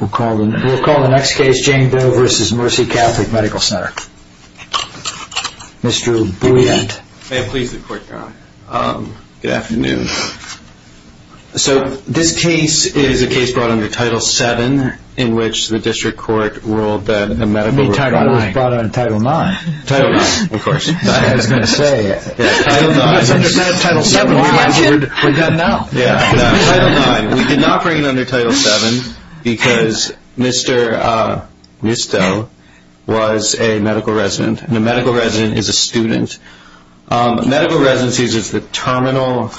We'll call the next case James Doe v. Mercy Catholic Medical Center. Mr. Bouillant. May it please the court, Your Honor. Good afternoon. So this case is a case brought under Title VII in which the district court ruled that a medical... You mean Title IX. Title IX. Title IX, of course. I was going to say... Title IX. It's under Title VII. We're done now. Yeah, Title IX. We did not bring it under Title VII because Mr. Neustadl was a medical resident, and a medical resident is a student. Medical residency is the terminal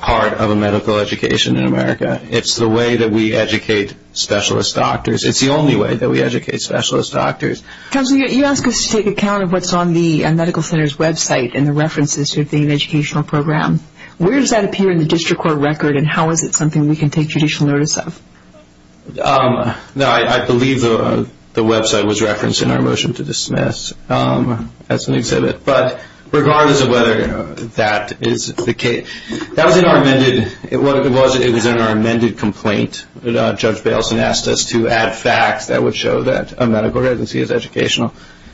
part of a medical education in America. It's the way that we educate specialist doctors. It's the only way that we educate specialist doctors. Counselor, you ask us to take account of what's on the medical center's website and the references to an educational program. Where does that appear in the district court record, and how is it something we can take judicial notice of? I believe the website was referenced in our motion to dismiss as an exhibit. But regardless of whether that is the case, that was in our amended complaint. Judge Bayleson asked us to add facts that would show that a medical residency is educational,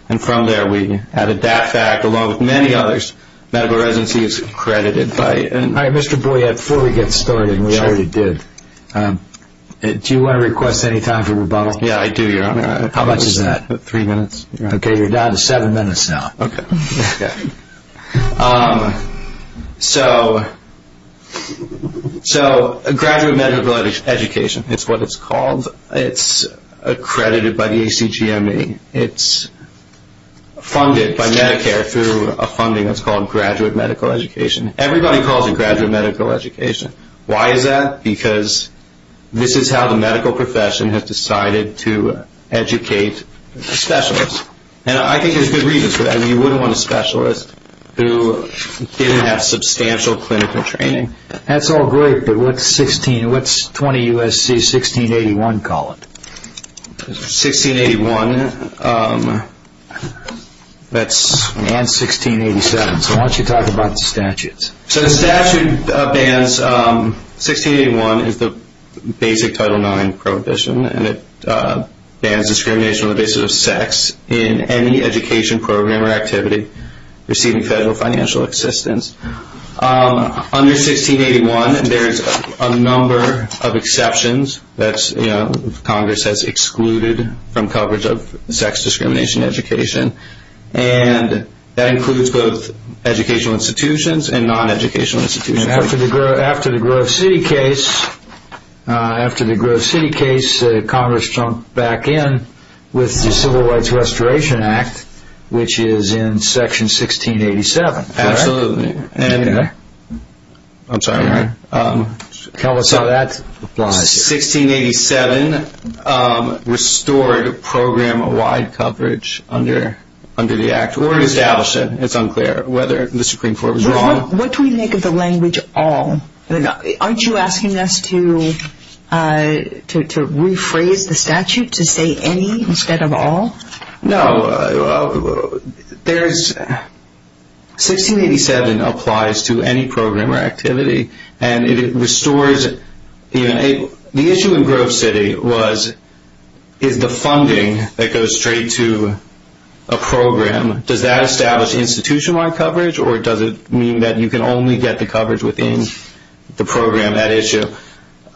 and from there we added that fact along with many others. Medical residency is accredited by... All right, Mr. Boyette, before we get started, and we already did, do you want to request any time for rebuttal? Yeah, I do, Your Honor. How much is that? Three minutes. Okay, you're down to seven minutes now. Okay. So graduate medical education, it's what it's called. It's accredited by the ACGME. It's funded by Medicare through a funding that's called graduate medical education. Everybody calls it graduate medical education. Why is that? Because this is how the medical profession has decided to educate specialists. And I think there's good reasons for that. You wouldn't want a specialist who didn't have substantial clinical training. That's all great, but what's 20 U.S.C. 1681 call it? 1681 and 1687. So why don't you talk about the statutes? So the statute bans 1681 is the basic Title IX prohibition, and it bans discrimination on the basis of sex in any education program or activity receiving federal financial assistance. Under 1681, there's a number of exceptions that Congress has excluded from coverage of sex discrimination education, and that includes both educational institutions and non-educational institutions. After the Grove City case, Congress jumped back in with the Civil Rights Restoration Act, which is in Section 1687, correct? Absolutely. I'm sorry. Tell us how that applies. 1687 restored program-wide coverage under the Act or established it. It's unclear whether the Supreme Court was wrong. What do we make of the language all? Aren't you asking us to rephrase the statute to say any instead of all? No. 1687 applies to any program or activity, and it restores. The issue in Grove City is the funding that goes straight to a program. Does that establish institution-wide coverage, or does it mean that you can only get the coverage within the program at issue?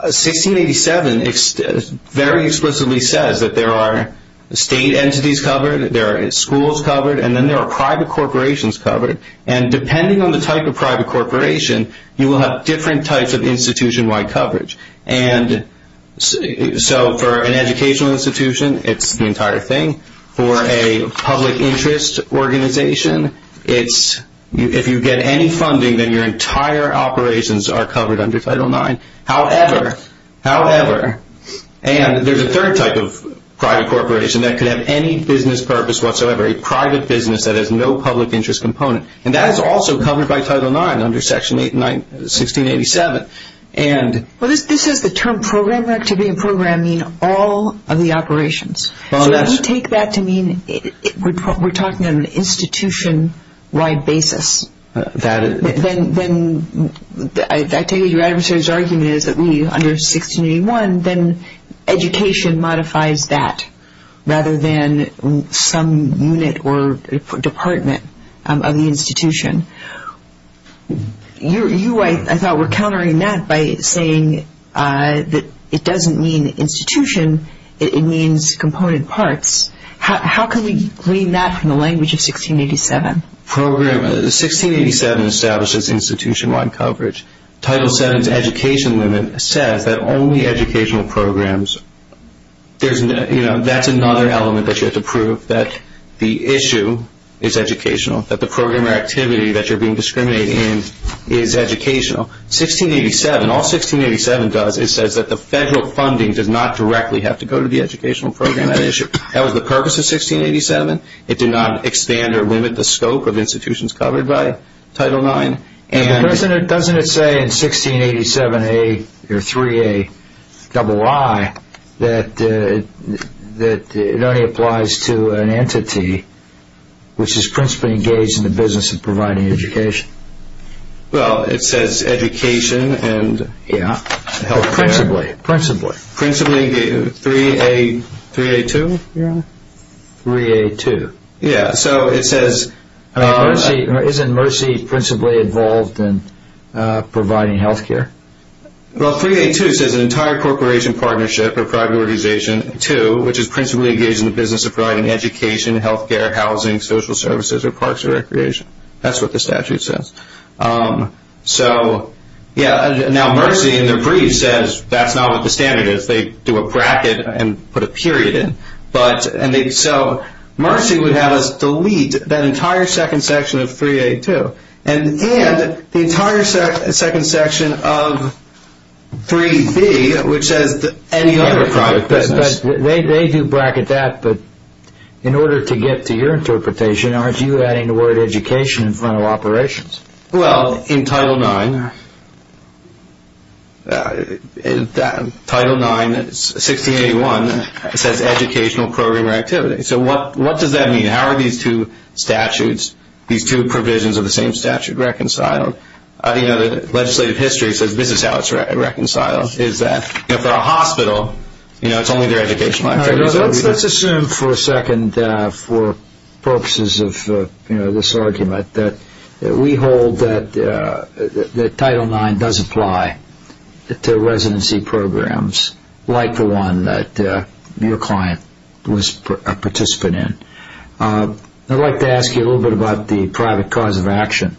1687 very explicitly says that there are state entities covered, there are schools covered, and then there are private corporations covered, and depending on the type of private corporation, you will have different types of institution-wide coverage. So for an educational institution, it's the entire thing. For a public interest organization, if you get any funding, then your entire operations are covered under Title IX. However, and there's a third type of private corporation that could have any business purpose whatsoever, a private business that has no public interest component, and that is also covered by Title IX under Section 1687. This is the term program or activity and program mean all of the operations. So would you take that to mean we're talking on an institution-wide basis? I take it your adversary's argument is that under 1681, then education modifies that rather than some unit or department of the institution. You, I thought, were countering that by saying that it doesn't mean institution, it means component parts. How can we glean that from the language of 1687? 1687 establishes institution-wide coverage. Title VII's education limit says that only educational programs, that's another element that you have to prove that the issue is educational, that the program or activity that you're being discriminated in is educational. 1687, all 1687 does, it says that the federal funding does not directly have to go to the educational program at issue. That was the purpose of 1687. It did not expand or limit the scope of institutions covered by Title IX. Doesn't it say in 1687A or 3AII that it only applies to an entity which is principally engaged in the business of providing education? Well, it says education and health care. Principally, principally. 3A, 3AII? 3AII. Yeah, so it says. Isn't Mercy principally involved in providing health care? Well, 3AII says an entire corporation, partnership, or private organization, which is principally engaged in the business of providing education, health care, housing, social services, or parks or recreation. That's what the statute says. So, yeah, now Mercy in their brief says that's not what the standard is. They do a bracket and put a period in. So, Mercy would have us delete that entire second section of 3AII and the entire second section of 3B, which says any other private business. They do bracket that, but in order to get to your interpretation, aren't you adding the word education in front of operations? Well, in Title IX, Title IX, 1681, it says educational program or activity. So what does that mean? How are these two statutes, these two provisions of the same statute, reconciled? The legislative history says this is how it's reconciled, is that for a hospital it's only their educational activities. Let's assume for a second, for purposes of this argument, that we hold that Title IX does apply to residency programs like the one that your client was a participant in. I'd like to ask you a little bit about the private cause of action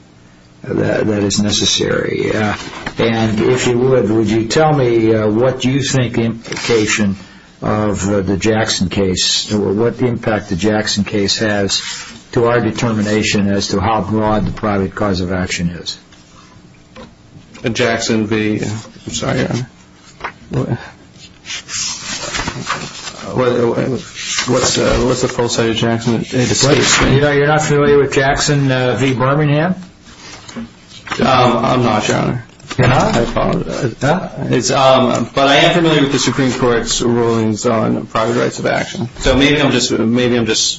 that is necessary. And if you would, would you tell me what you think the implication of the Jackson case, or what impact the Jackson case has to our determination as to how broad the private cause of action is? Jackson v. I'm sorry, what's the full state of Jackson? You're not familiar with Jackson v. Birmingham? I'm not, Your Honor. You're not? But I am familiar with the Supreme Court's rulings on private rights of action. So maybe I'm just blanking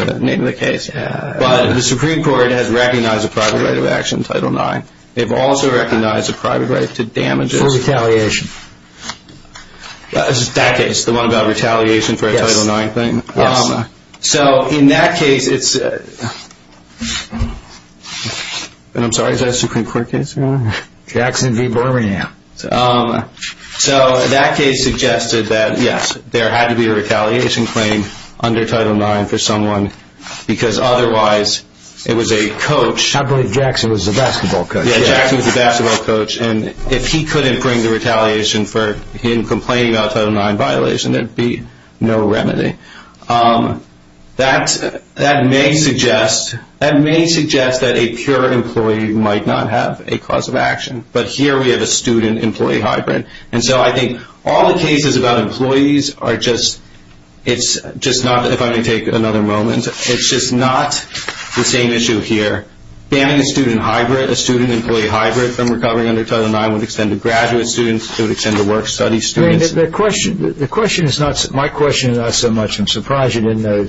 on the name of the case. But the Supreme Court has recognized a private right of action, Title IX. They've also recognized a private right to damages. For retaliation. That case, the one about retaliation for a Title IX thing. Yes. So in that case, it's... And I'm sorry, is that a Supreme Court case, Your Honor? Jackson v. Birmingham. So that case suggested that, yes, there had to be a retaliation claim under Title IX for someone, because otherwise it was a coach. I believe Jackson was a basketball coach. Yeah, Jackson was a basketball coach. And if he couldn't bring the retaliation for him complaining about a Title IX violation, there'd be no remedy. That may suggest that a pure employee might not have a cause of action. But here we have a student-employee hybrid. And so I think all the cases about employees are just, it's just not, if I may take another moment, it's just not the same issue here. So banning a student-employee hybrid from recovering under Title IX would extend to graduate students, it would extend to work-study students. The question is not, my question is not so much, I'm surprised you didn't know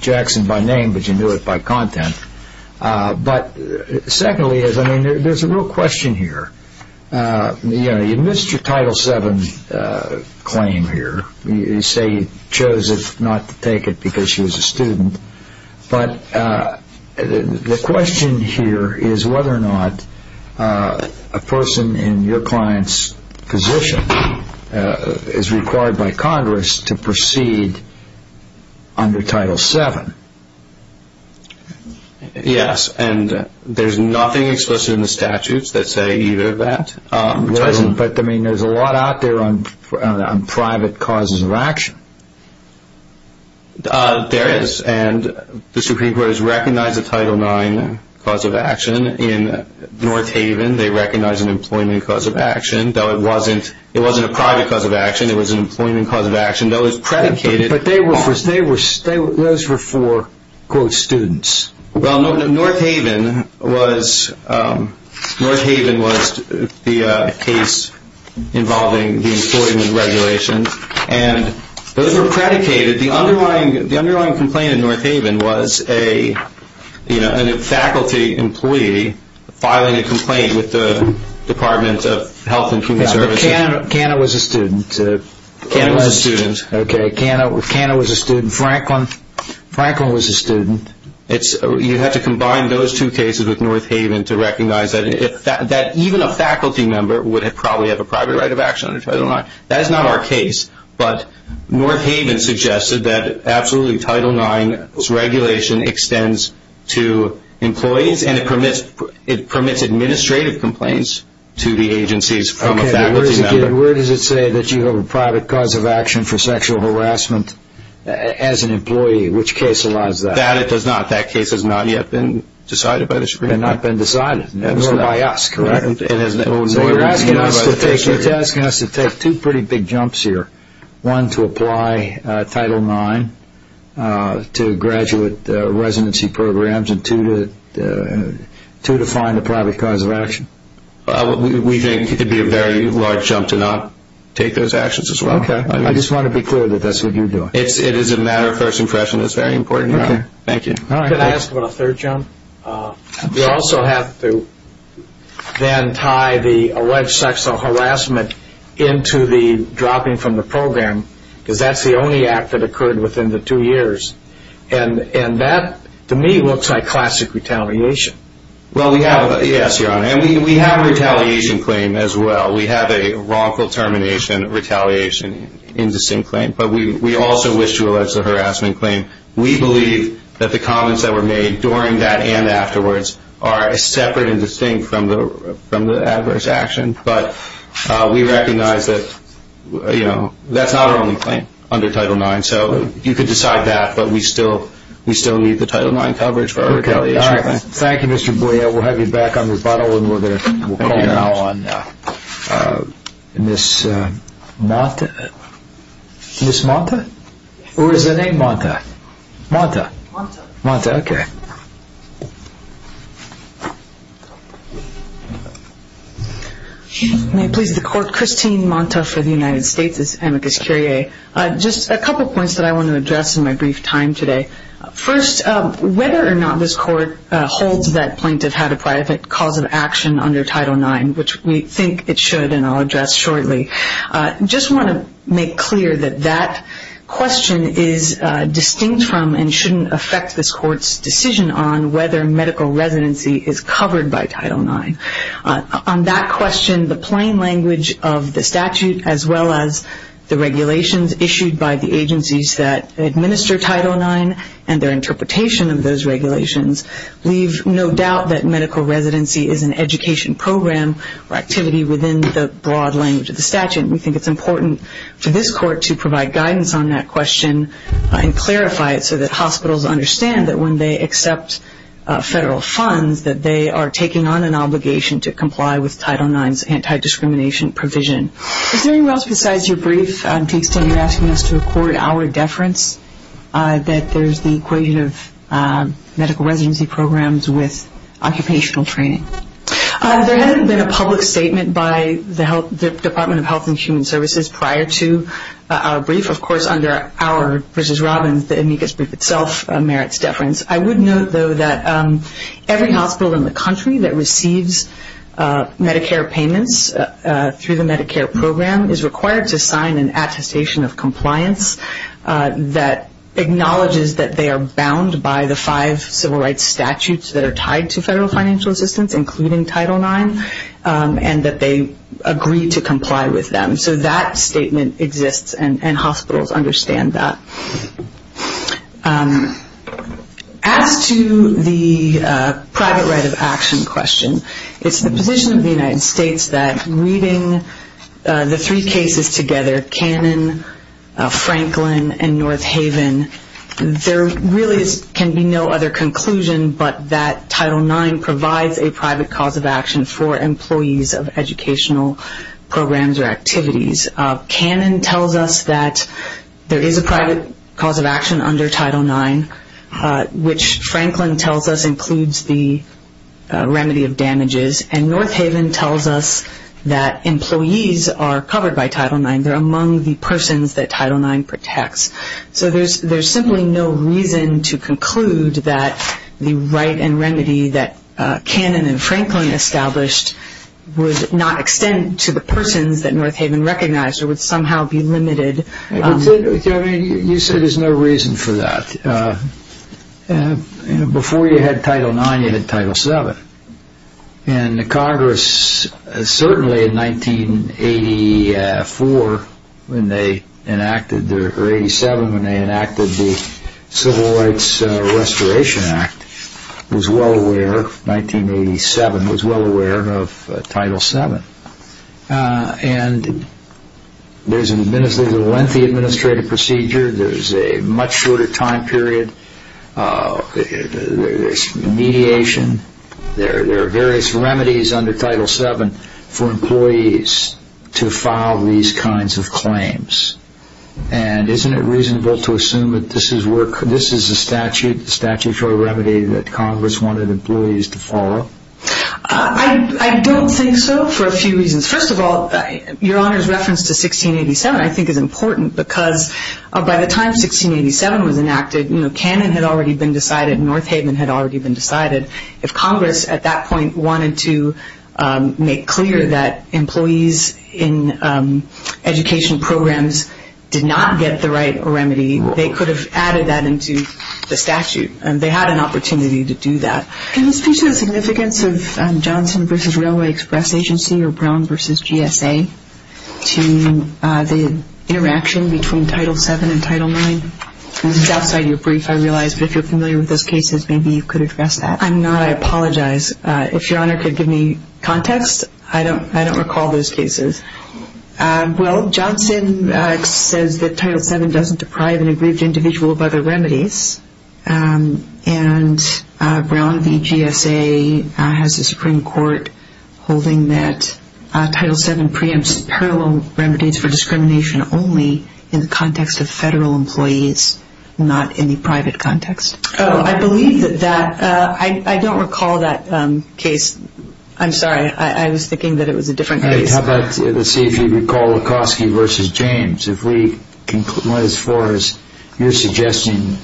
Jackson by name, but you knew it by content. But secondly, there's a real question here. You missed your Title VII claim here. But the question here is whether or not a person in your client's position is required by Congress to proceed under Title VII. Yes, and there's nothing explicit in the statutes that say either of that. There isn't, but, I mean, there's a lot out there on private causes of action. There is, and the Supreme Court has recognized a Title IX cause of action. In North Haven, they recognized an employment cause of action, though it wasn't a private cause of action, it was an employment cause of action, though it was predicated. But those were for, quote, students. Well, North Haven was the case involving the employment regulations, and those were predicated. The underlying complaint in North Haven was a faculty employee filing a complaint with the Department of Health and Human Services. Yeah, but Canna was a student. Canna was a student. Okay, Canna was a student. Franklin. Franklin was a student. You have to combine those two cases with North Haven to recognize that even a faculty member would probably have a private right of action under Title IX. That is not our case, but North Haven suggested that absolutely Title IX's regulation extends to employees, and it permits administrative complaints to the agencies from a faculty member. Where does it say that you have a private cause of action for sexual harassment as an employee? Which case allows that? That it does not. That case has not yet been decided by the Supreme Court. Has not been decided, nor by us, correct? So you're asking us to take two pretty big jumps here. One, to apply Title IX to graduate residency programs, and two, to find a private cause of action. We think it would be a very large jump to not take those actions as well. Okay. I just want to be clear that that's what you're doing. It is a matter of first impression. It's very important, Your Honor. Okay. Thank you. Can I ask about a third jump? We also have to then tie the alleged sexual harassment into the dropping from the program, because that's the only act that occurred within the two years. And that, to me, looks like classic retaliation. Well, yes, Your Honor. And we have a retaliation claim as well. We have a wrongful termination retaliation indistinct claim. But we also wish to allege the harassment claim. We believe that the comments that were made during that and afterwards are separate and distinct from the adverse action. But we recognize that that's not our only claim under Title IX. So you could decide that, but we still need the Title IX coverage for our retaliation claim. All right. Thank you, Mr. Boyer. We'll have you back on rebuttal, and we'll call you now on Ms. Monta. Ms. Monta? Or is that a Monta? Monta. Monta. Monta. Okay. May it please the Court. Christine Monta for the United States. This is Amicus Curiae. Just a couple points that I want to address in my brief time today. First, whether or not this Court holds that plaintiff had a private cause of action under Title IX, which we think it should, and I'll address shortly. I just want to make clear that that question is distinct from and shouldn't affect this Court's decision on whether medical residency is covered by Title IX. On that question, the plain language of the statute, as well as the regulations issued by the agencies that administer Title IX and their interpretation of those regulations, leave no doubt that medical residency is an education program or activity within the broad language of the statute. We think it's important for this Court to provide guidance on that question and clarify it so that hospitals understand that when they accept federal funds, that they are taking on an obligation to comply with Title IX's anti-discrimination provision. Is there anyone else besides your brief, to the extent you're asking us to record our deference, that there's the equation of medical residency programs with occupational training? There hasn't been a public statement by the Department of Health and Human Services prior to our brief. Of course, under our versus Robyn's, the Amicus brief itself merits deference. I would note, though, that every hospital in the country that receives Medicare payments through the Medicare program is required to sign an attestation of compliance that acknowledges that they are bound by the five civil rights statutes that are tied to federal financial assistance, including Title IX, and that they agree to comply with them. So that statement exists, and hospitals understand that. As to the private right of action question, it's the position of the United States that reading the three cases together, Cannon, Franklin, and North Haven, there really can be no other conclusion but that Title IX provides a private cause of action for employees of educational programs or activities. Cannon tells us that there is a private cause of action under Title IX, which Franklin tells us includes the remedy of damages, and North Haven tells us that employees are covered by Title IX. They're among the persons that Title IX protects. So there's simply no reason to conclude that the right and remedy that Cannon and Franklin established would not extend to the persons that North Haven recognized or would somehow be limited. You said there's no reason for that. Before you had Title IX, you had Title VII. And the Congress, certainly in 1984, or 87, when they enacted the Civil Rights Restoration Act, was well aware, 1987, was well aware of Title VII. And there's a lengthy administrative procedure. There's a much shorter time period. There's mediation. There are various remedies under Title VII for employees to file these kinds of claims. And isn't it reasonable to assume that this is a statutory remedy that Congress wanted employees to follow? I don't think so for a few reasons. First of all, Your Honor's reference to 1687 I think is important because by the time 1687 was enacted, Cannon had already been decided and North Haven had already been decided. If Congress at that point wanted to make clear that employees in education programs did not get the right remedy, they could have added that into the statute, and they had an opportunity to do that. Can you speak to the significance of Johnson v. Railway Express Agency or Brown v. GSA to the interaction between Title VII and Title IX? This is outside your brief, I realize, but if you're familiar with those cases, maybe you could address that. I'm not. I apologize. If Your Honor could give me context, I don't recall those cases. Well, Johnson says that Title VII doesn't deprive an aggrieved individual of other remedies, and Brown v. GSA has a Supreme Court holding that Title VII preempts parallel remedies for discrimination only in the context of federal employees, not in the private context. Oh, I believe that. I don't recall that case. I'm sorry. I was thinking that it was a different case. All right. How about let's see if you recall Lekoski v. James. As far as you're suggesting,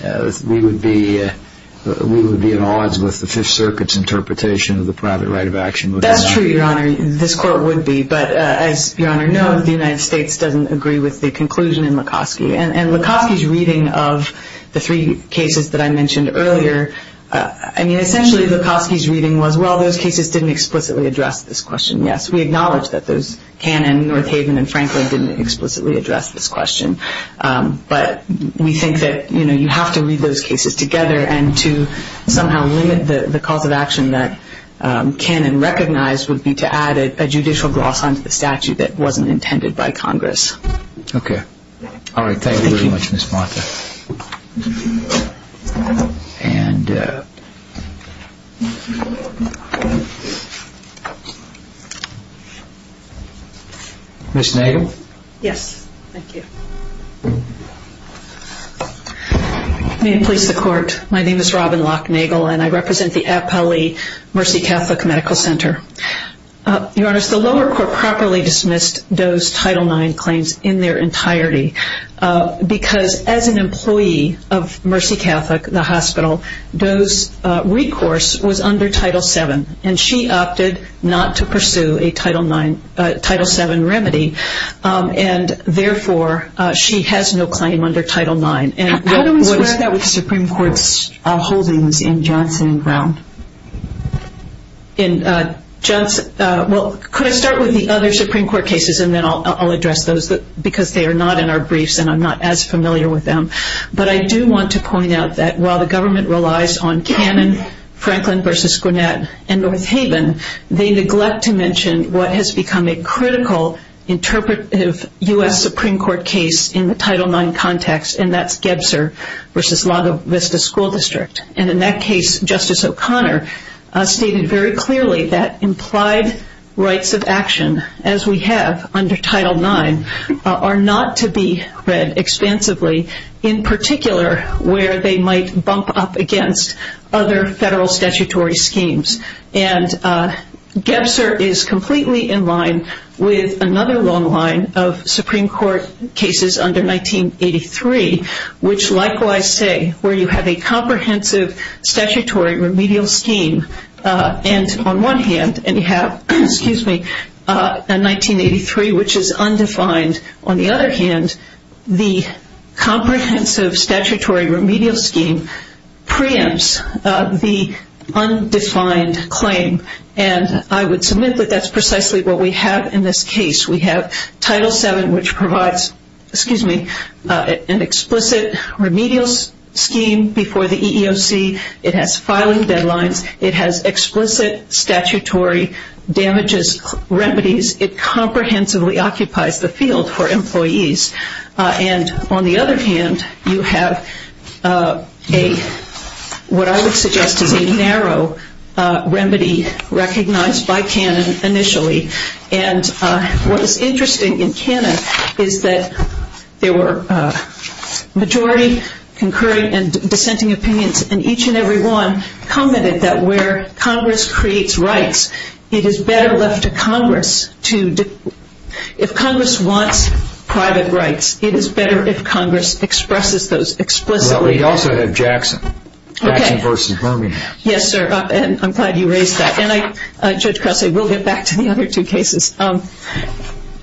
we would be at odds with the Fifth Circuit's interpretation of the private right of action. That's true, Your Honor. This Court would be. But as Your Honor knows, the United States doesn't agree with the conclusion in Lekoski. And Lekoski's reading of the three cases that I mentioned earlier, I mean, essentially Lekoski's reading was, well, those cases didn't explicitly address this question, yes. We acknowledge that Cannon, Northaven, and Franklin didn't explicitly address this question, but we think that you have to read those cases together, and to somehow limit the cause of action that Cannon recognized would be to add a judicial gloss onto the statute that wasn't intended by Congress. Okay. All right. Thank you very much, Ms. Martha. And Ms. Nagel? Yes. Thank you. May it please the Court. My name is Robin Locke-Nagel, and I represent the Appellee Mercy Catholic Medical Center. Your Honor, the lower court properly dismissed those Title IX claims in their entirety, because as an employee of Mercy Catholic, the hospital, those recourse was under Title VII, and she opted not to pursue a Title VII remedy, and therefore she has no claim under Title IX. How do we square that with the Supreme Court's holdings in Johnson and Brown? Well, could I start with the other Supreme Court cases, and then I'll address those, because they are not in our briefs and I'm not as familiar with them. But I do want to point out that while the government relies on Cannon, Franklin v. Gwinnett, and North Haven, they neglect to mention what has become a critical interpretive U.S. Supreme Court case in the Title IX context, and that's Gebser v. La Vista School District. And in that case, Justice O'Connor stated very clearly that implied rights of action, as we have under Title IX, are not to be read expansively, in particular where they might bump up against other federal statutory schemes. And Gebser is completely in line with another long line of Supreme Court cases under 1983, which likewise say where you have a comprehensive statutory remedial scheme, and on one hand you have 1983, which is undefined. On the other hand, the comprehensive statutory remedial scheme preempts the undefined claim, and I would submit that that's precisely what we have in this case. We have Title VII, which provides an explicit remedial scheme before the EEOC. It has filing deadlines. It has explicit statutory damages remedies. It comprehensively occupies the field for employees. And on the other hand, you have what I would suggest is a narrow remedy recognized by Cannon initially. And what is interesting in Cannon is that there were majority, concurring, and dissenting opinions, and each and every one commented that where Congress creates rights, it is better left to Congress to if Congress wants private rights, it is better if Congress expresses those explicitly. Well, we also have Jackson. Okay. Jackson v. Birmingham. Yes, sir, and I'm glad you raised that. And I, Judge Crousey, will get back to the other two cases.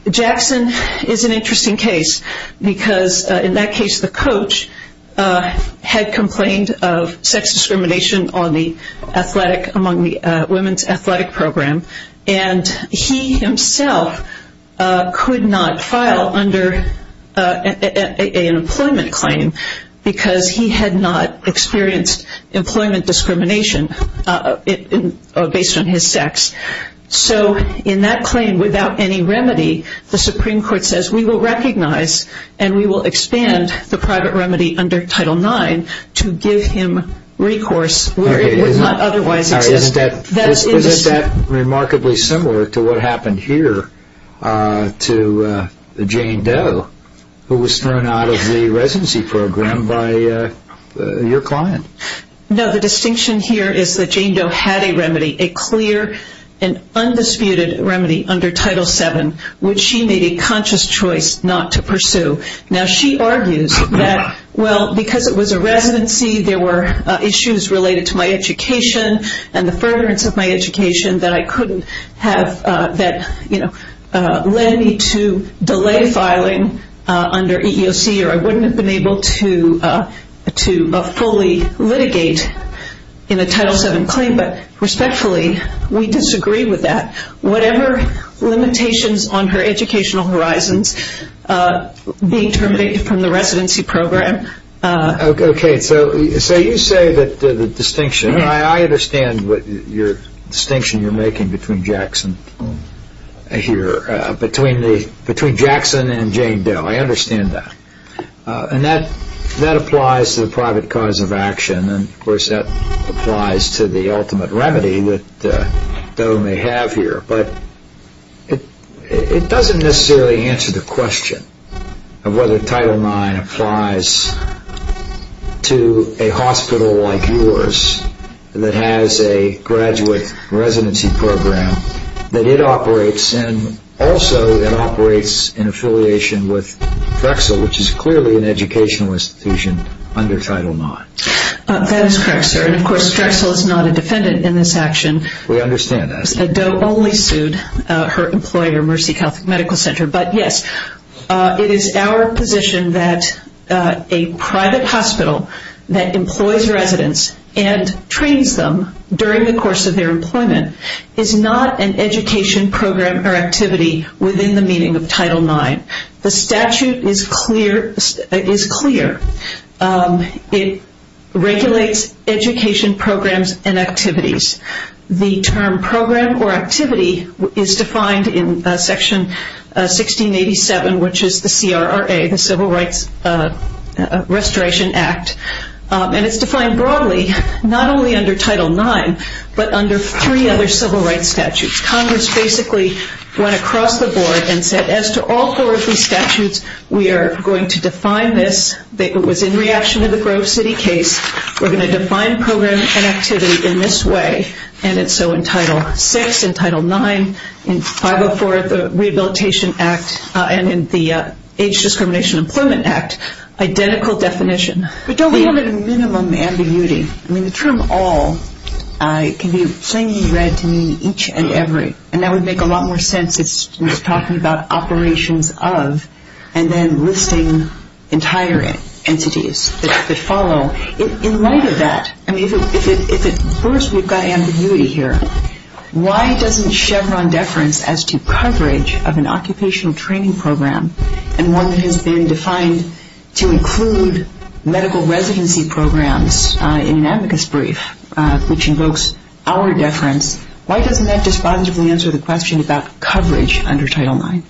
Jackson is an interesting case because in that case, the coach had complained of sex discrimination on the women's athletic program, and he himself could not file under an employment claim because he had not experienced employment discrimination based on his sex. So in that claim, without any remedy, the Supreme Court says we will recognize and we will expand the private remedy under Title IX to give him recourse where it would not otherwise exist. Isn't that remarkably similar to what happened here to Jane Doe, who was thrown out of the residency program by your client? No, the distinction here is that Jane Doe had a remedy, a clear and undisputed remedy under Title VII, which she made a conscious choice not to pursue. Now, she argues that, well, because it was a residency, there were issues related to my education and the furtherance of my education that I couldn't have that, you know, led me to delay filing under EEOC or I wouldn't have been able to fully litigate in a Title VII claim. But respectfully, we disagree with that. Whatever limitations on her educational horizons being terminated from the residency program... Okay, so you say that the distinction... I understand your distinction you're making between Jackson and Jane Doe. I understand that, and that applies to the private cause of action and, of course, that applies to the ultimate remedy that Doe may have here. But it doesn't necessarily answer the question of whether Title IX applies to a hospital like yours that has a graduate residency program that it operates in. Also, it operates in affiliation with Drexel, which is clearly an educational institution under Title IX. That is correct, sir, and, of course, Drexel is not a defendant in this action. We understand that. Doe only sued her employer, Mercy Catholic Medical Center. But, yes, it is our position that a private hospital that employs residents and trains them during the course of their employment is not an education program or activity within the meaning of Title IX. The statute is clear. It regulates education programs and activities. The term program or activity is defined in Section 1687, which is the CRRA, the Civil Rights Restoration Act. And it's defined broadly, not only under Title IX, but under three other civil rights statutes. Congress basically went across the board and said, as to all four of these statutes, we are going to define this. It was in reaction to the Grove City case. We're going to define program and activity in this way. And so in Title VI, in Title IX, in 504 of the Rehabilitation Act, and in the Age Discrimination Employment Act, identical definition. But, Doe, we have a minimum ambiguity. I mean, the term all can be plainly read to mean each and every. And that would make a lot more sense. It's talking about operations of and then listing entire entities that follow. In light of that, I mean, if at first we've got ambiguity here, why doesn't Chevron deference as to coverage of an occupational training program and one that has been defined to include medical residency programs in an amicus brief, which invokes our deference, why doesn't that just positively answer the question about coverage under Title IX?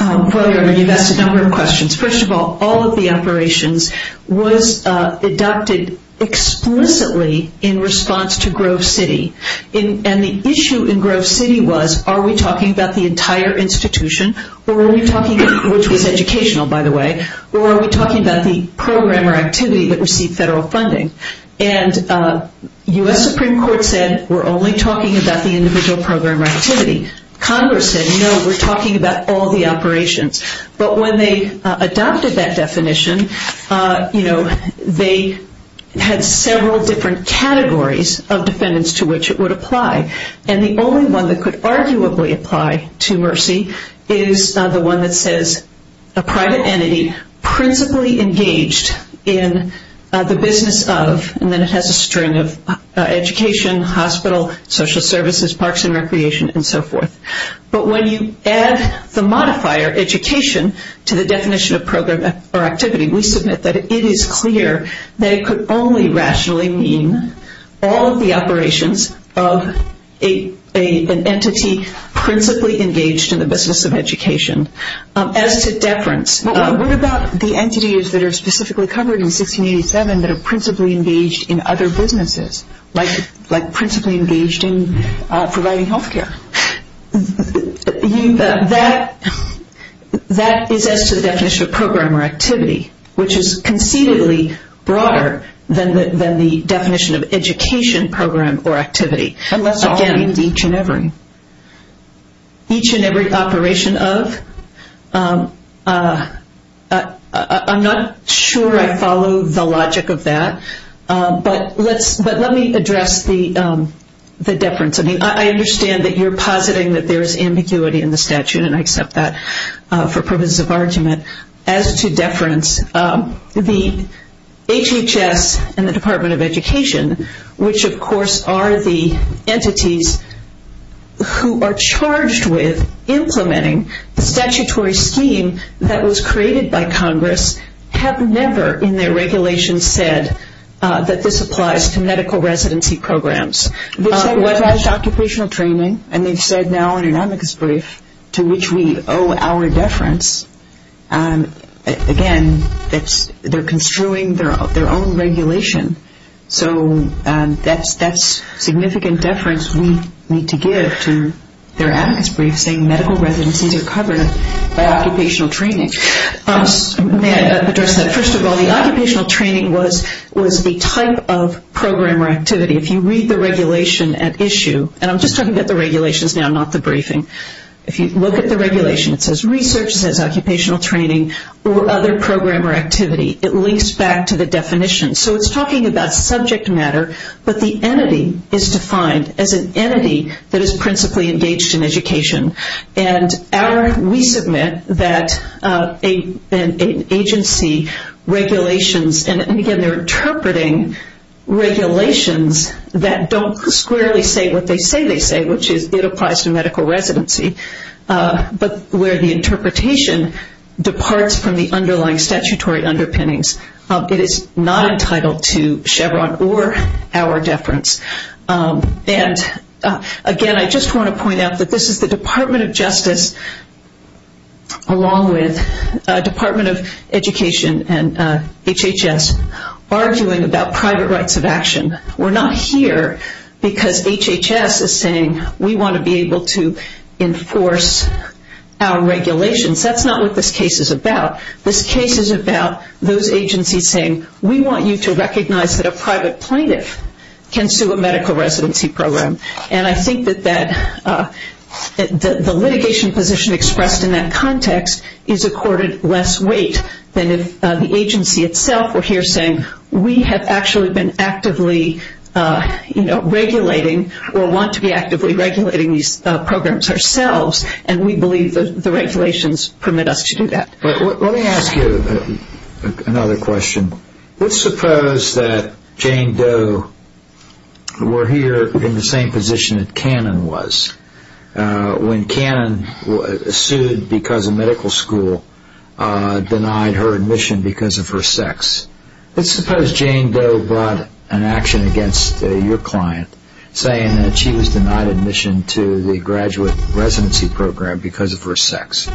Well, you've asked a number of questions. First of all, all of the operations was adopted explicitly in response to Grove City. And the issue in Grove City was, are we talking about the entire institution which was educational, by the way, or are we talking about the program or activity that received federal funding? And U.S. Supreme Court said, we're only talking about the individual program or activity. Congress said, no, we're talking about all the operations. But when they adopted that definition, they had several different categories of defendants to which it would apply. And the only one that could arguably apply to Mercy is the one that says, a private entity principally engaged in the business of, and then it has a string of education, hospital, social services, parks and recreation, and so forth. But when you add the modifier education to the definition of program or activity, we submit that it is clear that it could only rationally mean all of the operations of an entity principally engaged in the business of education. As to deference, what about the entities that are specifically covered in 1687 that are principally engaged in other businesses, like principally engaged in providing health care? That is as to the definition of program or activity, which is concededly broader than the definition of education program or activity. Unless, again, each and every. Each and every operation of. I'm not sure I follow the logic of that. But let me address the deference. I mean, I understand that you're positing that there is ambiguity in the statute, and I accept that for purposes of argument. As to deference, the HHS and the Department of Education, which of course are the entities who are charged with implementing the statutory scheme that was created by Congress, have never in their regulations said that this applies to medical residency programs. They've said it applies to occupational training, and they've said now in an amicus brief to which we owe our deference. Again, they're construing their own regulation. So that's significant deference we need to give to their amicus brief, saying medical residencies are covered by occupational training. May I address that? First of all, the occupational training was the type of program or activity. If you read the regulation at issue, and I'm just talking about the regulations now, not the briefing. If you look at the regulation, it says research, occupational training, or other program or activity. It links back to the definition. So it's talking about subject matter, but the entity is defined as an entity that is principally engaged in education. We submit that an agency regulations, and again they're interpreting regulations that don't squarely say what they say they say, which is it applies to medical residency, but where the interpretation departs from the underlying statutory underpinnings. It is not entitled to Chevron or our deference. And again, I just want to point out that this is the Department of Justice, along with Department of Education and HHS, arguing about private rights of action. We're not here because HHS is saying we want to be able to enforce our regulations. That's not what this case is about. This case is about those agencies saying we want you to recognize that a private plaintiff can sue a medical residency program. And I think that the litigation position expressed in that context is accorded less weight than if the agency itself were here saying we have actually been actively regulating or want to be actively regulating these programs ourselves, and we believe the regulations permit us to do that. Let me ask you another question. Let's suppose that Jane Doe were here in the same position that Cannon was when Cannon sued because a medical school denied her admission because of her sex. Let's suppose Jane Doe brought an action against your client saying that she was denied admission to the graduate residency program because of her sex.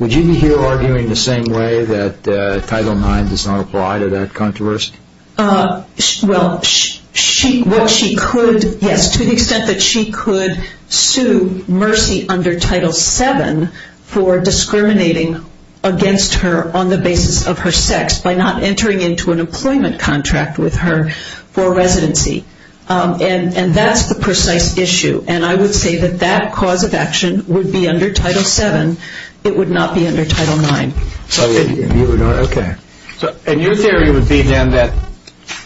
Would you be here arguing the same way that Title IX does not apply to that controversy? Well, what she could, yes, to the extent that she could sue Mercy under Title VII for discriminating against her on the basis of her sex by not entering into an employment contract with her for residency. And that's the precise issue. And I would say that that cause of action would be under Title VII. It would not be under Title IX. Okay. And your theory would be then that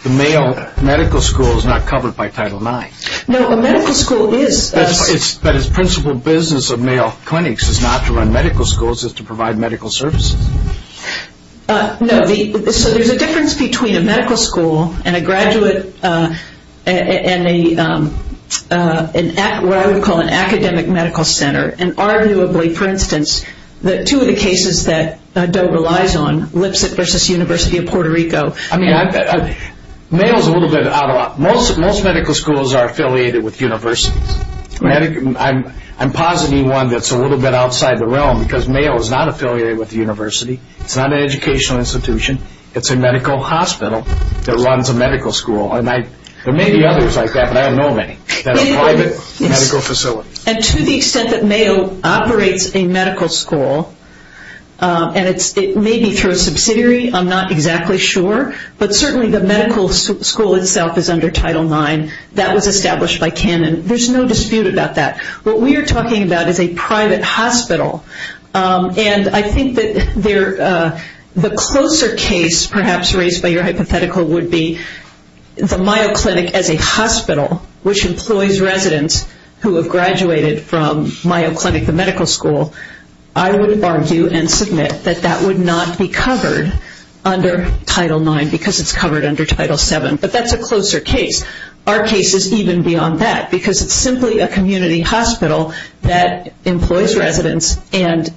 the male medical school is not covered by Title IX. No, a medical school is. But its principal business of male clinics is not to run medical schools, it's to provide medical services. No, so there's a difference between a medical school and a graduate and what I would call an academic medical center. And arguably, for instance, two of the cases that Doe relies on, Lipset versus University of Puerto Rico. I mean, male is a little bit out of, most medical schools are affiliated with universities. I'm positing one that's a little bit outside the realm because male is not affiliated with the university. It's not an educational institution. It's a medical hospital that runs a medical school. And there may be others like that, but I don't know of any that are private medical facilities. And to the extent that male operates a medical school, and it may be through a subsidiary, I'm not exactly sure, but certainly the medical school itself is under Title IX. That was established by Canon. There's no dispute about that. What we are talking about is a private hospital, and I think that the closer case perhaps raised by your hypothetical would be the Mayo Clinic as a hospital, which employs residents who have graduated from Mayo Clinic, the medical school. I would argue and submit that that would not be covered under Title IX because it's covered under Title VII, but that's a closer case. Our case is even beyond that because it's simply a community hospital that employs residents and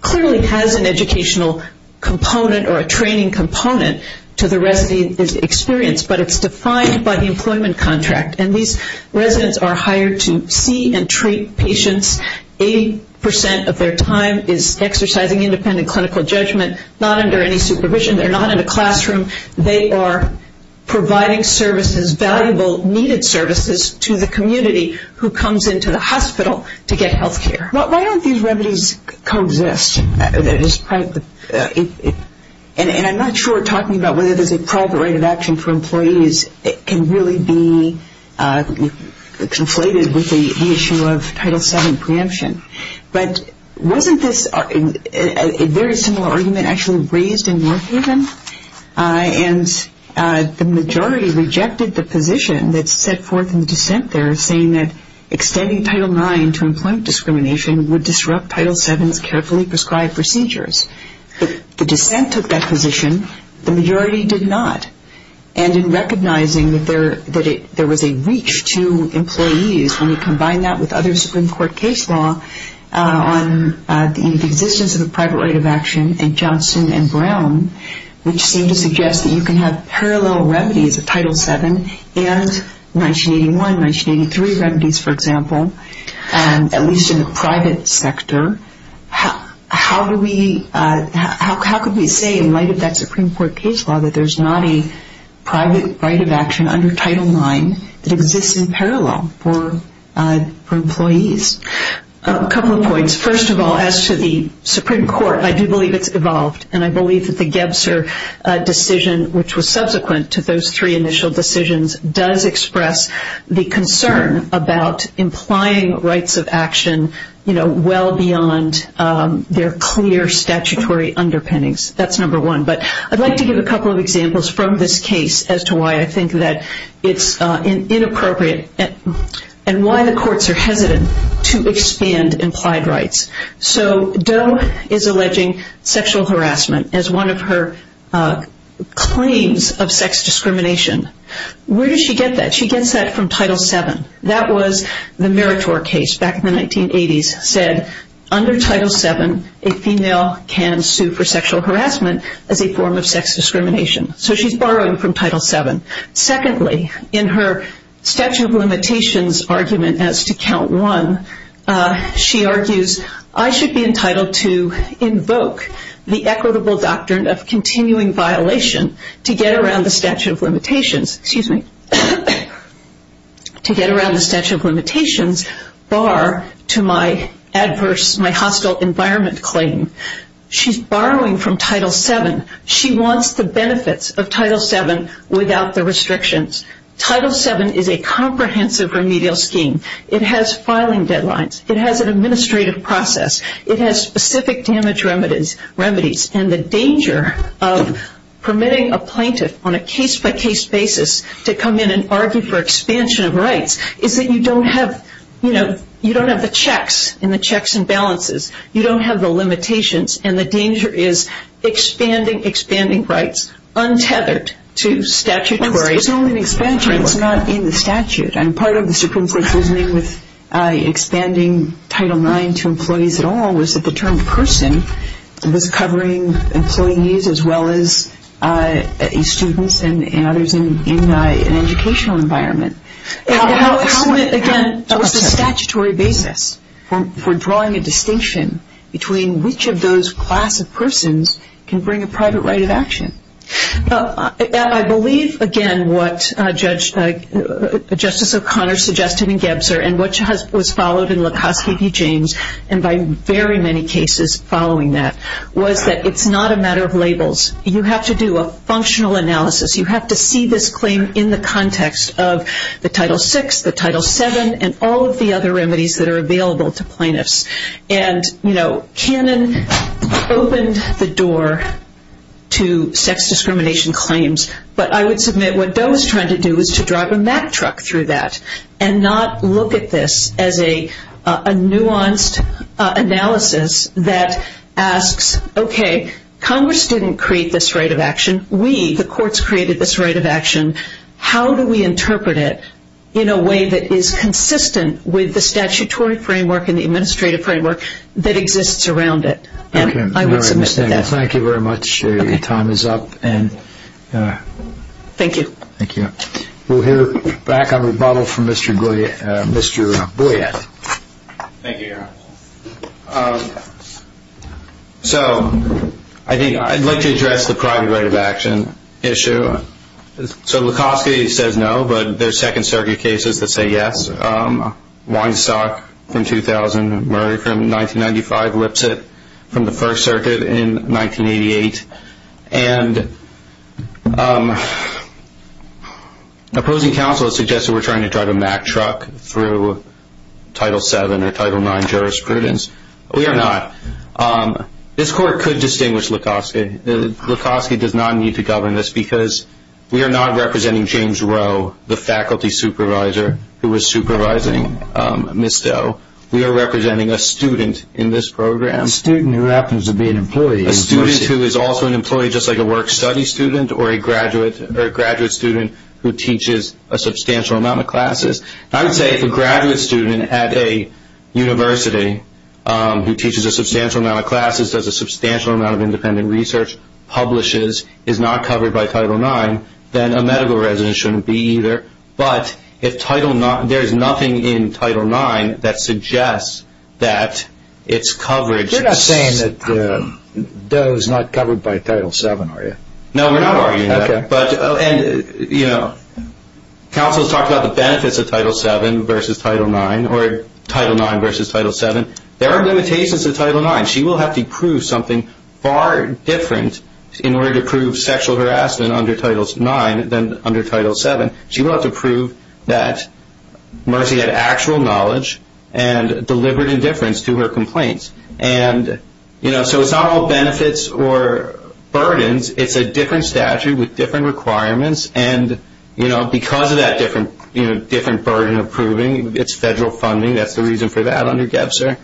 clearly has an educational component or a training component to the resident experience, but it's defined by the employment contract. And these residents are hired to see and treat patients. Eighty percent of their time is exercising independent clinical judgment, not under any supervision. They're not in a classroom. They are providing services, valuable needed services, to the community who comes into the hospital to get health care. Why don't these remedies coexist? And I'm not sure talking about whether there's a private right of action for employees can really be conflated with the issue of Title VII preemption. But wasn't this a very similar argument actually raised in Warhaven? And the majority rejected the position that's set forth in the dissent there, saying that extending Title IX to employment discrimination would disrupt Title VII's carefully prescribed procedures. The dissent took that position. The majority did not. And in recognizing that there was a reach to employees when you combine that with other Supreme Court case law on the existence of a private right of action in Johnson and Brown, which seemed to suggest that you can have parallel remedies of Title VII and 1981, 1983 remedies, for example, at least in the private sector, how could we say in light of that Supreme Court case law that there's not a private right of action under Title IX that exists in parallel for employees? A couple of points. First of all, as to the Supreme Court, I do believe it's evolved, and I believe that the Gebser decision, which was subsequent to those three initial decisions, does express the concern about implying rights of action well beyond their clear statutory underpinnings. That's number one. But I'd like to give a couple of examples from this case as to why I think that it's inappropriate and why the courts are hesitant to expand implied rights. So Doe is alleging sexual harassment as one of her claims of sex discrimination. Where does she get that? She gets that from Title VII. That was the Meritor case back in the 1980s, under Title VII, a female can sue for sexual harassment as a form of sex discrimination. So she's borrowing from Title VII. Secondly, in her statute of limitations argument as to count one, she argues, I should be entitled to invoke the equitable doctrine of continuing violation to get around the statute of limitations, bar to my adverse, my hostile environment claim. She's borrowing from Title VII. She wants the benefits of Title VII without the restrictions. Title VII is a comprehensive remedial scheme. It has filing deadlines. It has an administrative process. It has specific damage remedies. And the danger of permitting a plaintiff on a case-by-case basis to come in and argue for expansion of rights is that you don't have, you know, you don't have the checks and the checks and balances. You don't have the limitations. And the danger is expanding rights untethered to statutory framework. It's not an expansion. It's not in the statute. And part of the Supreme Court's reasoning with expanding Title IX to employees at all was that the term person was covering employees as well as students and others in an educational environment. How, again, was the statutory basis for drawing a distinction between which of those class of persons can bring a private right of action? I believe, again, what Justice O'Connor suggested in Gebzer and what was followed in Lukoski v. James and by very many cases following that was that it's not a matter of labels. You have to do a functional analysis. You have to see this claim in the context of the Title VI, the Title VII, and all of the other remedies that are available to plaintiffs. And, you know, Cannon opened the door to sex discrimination claims, but I would submit what Doe was trying to do was to drive a Mack truck through that and not look at this as a nuanced analysis that asks, okay, Congress didn't create this right of action. We, the courts, created this right of action. How do we interpret it in a way that is consistent with the statutory framework and the administrative framework that exists around it? And I would submit that. Thank you very much. Your time is up. Thank you. Thank you. We'll hear back on rebuttal from Mr. Boyett. Thank you, Aaron. So I'd like to address the private right of action issue. So Lukoski says no, but there's Second Circuit cases that say yes. Weinstock from 2000, Murray from 1995, Lipset from the First Circuit in 1988. And opposing counsel has suggested we're trying to drive a Mack truck through Title VII or Title IX jurisprudence. We are not. This court could distinguish Lukoski. Lukoski does not need to govern this because we are not representing James Rowe, the faculty supervisor who was supervising Ms. Doe. We are representing a student in this program. A student who happens to be an employee. A student who is also an employee just like a work-study student or a graduate student who teaches a substantial amount of classes. I would say if a graduate student at a university who teaches a substantial amount of classes, does a substantial amount of independent research, publishes, is not covered by Title IX, then a medical resident shouldn't be either. But if Title IX, there is nothing in Title IX that suggests that it's coverage. You're not saying that Doe is not covered by Title VII, are you? No, we're not arguing that. Okay. And, you know, counsel has talked about the benefits of Title VII versus Title IX or Title IX versus Title VII. There are limitations to Title IX. She will have to prove something far different in order to prove sexual harassment under Title IX than under Title VII. She will have to prove that Mercy had actual knowledge and deliberate indifference to her complaints. And, you know, so it's not all benefits or burdens. It's a different statute with different requirements. And, you know, because of that different burden of proving, it's federal funding. That's the reason for that under GEPSR.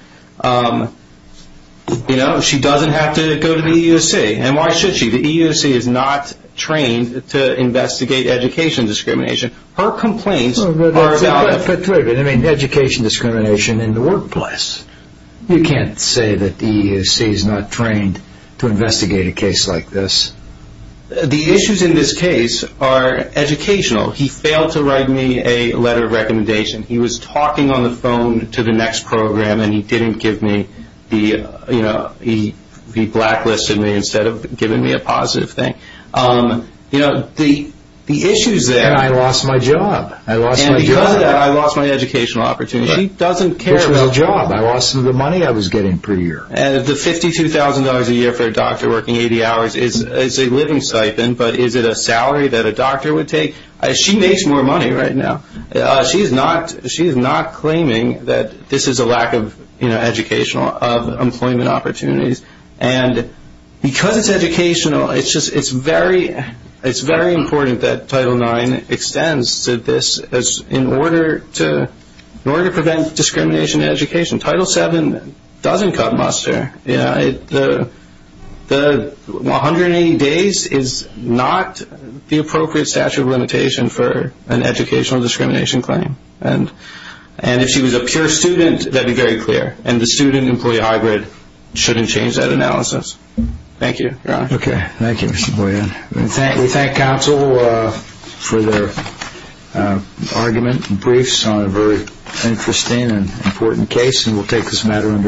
You know, she doesn't have to go to the EUC. And why should she? The EUC is not trained to investigate education discrimination. Her complaints are about education discrimination in the workplace. You can't say that the EUC is not trained to investigate a case like this. The issues in this case are educational. He failed to write me a letter of recommendation. He was talking on the phone to the next program, and he didn't give me the, you know, he blacklisted me instead of giving me a positive thing. You know, the issues there. And I lost my job. I lost my job. And because of that, I lost my educational opportunity. She doesn't care about that. Which was a job. I lost some of the money I was getting per year. The $52,000 a year for a doctor working 80 hours is a living stipend, but is it a salary that a doctor would take? She makes more money right now. She is not claiming that this is a lack of educational employment opportunities. And because it's educational, it's very important that Title IX extends to this in order to prevent discrimination in education. Title VII doesn't cut muster. The 180 days is not the appropriate statute of limitation for an educational discrimination claim. And if she was a pure student, that would be very clear. And the student-employee hybrid shouldn't change that analysis. Thank you. Okay. Thank you, Mr. Boyan. We thank counsel for their argument and briefs on a very interesting and important case, and we'll take this matter under review.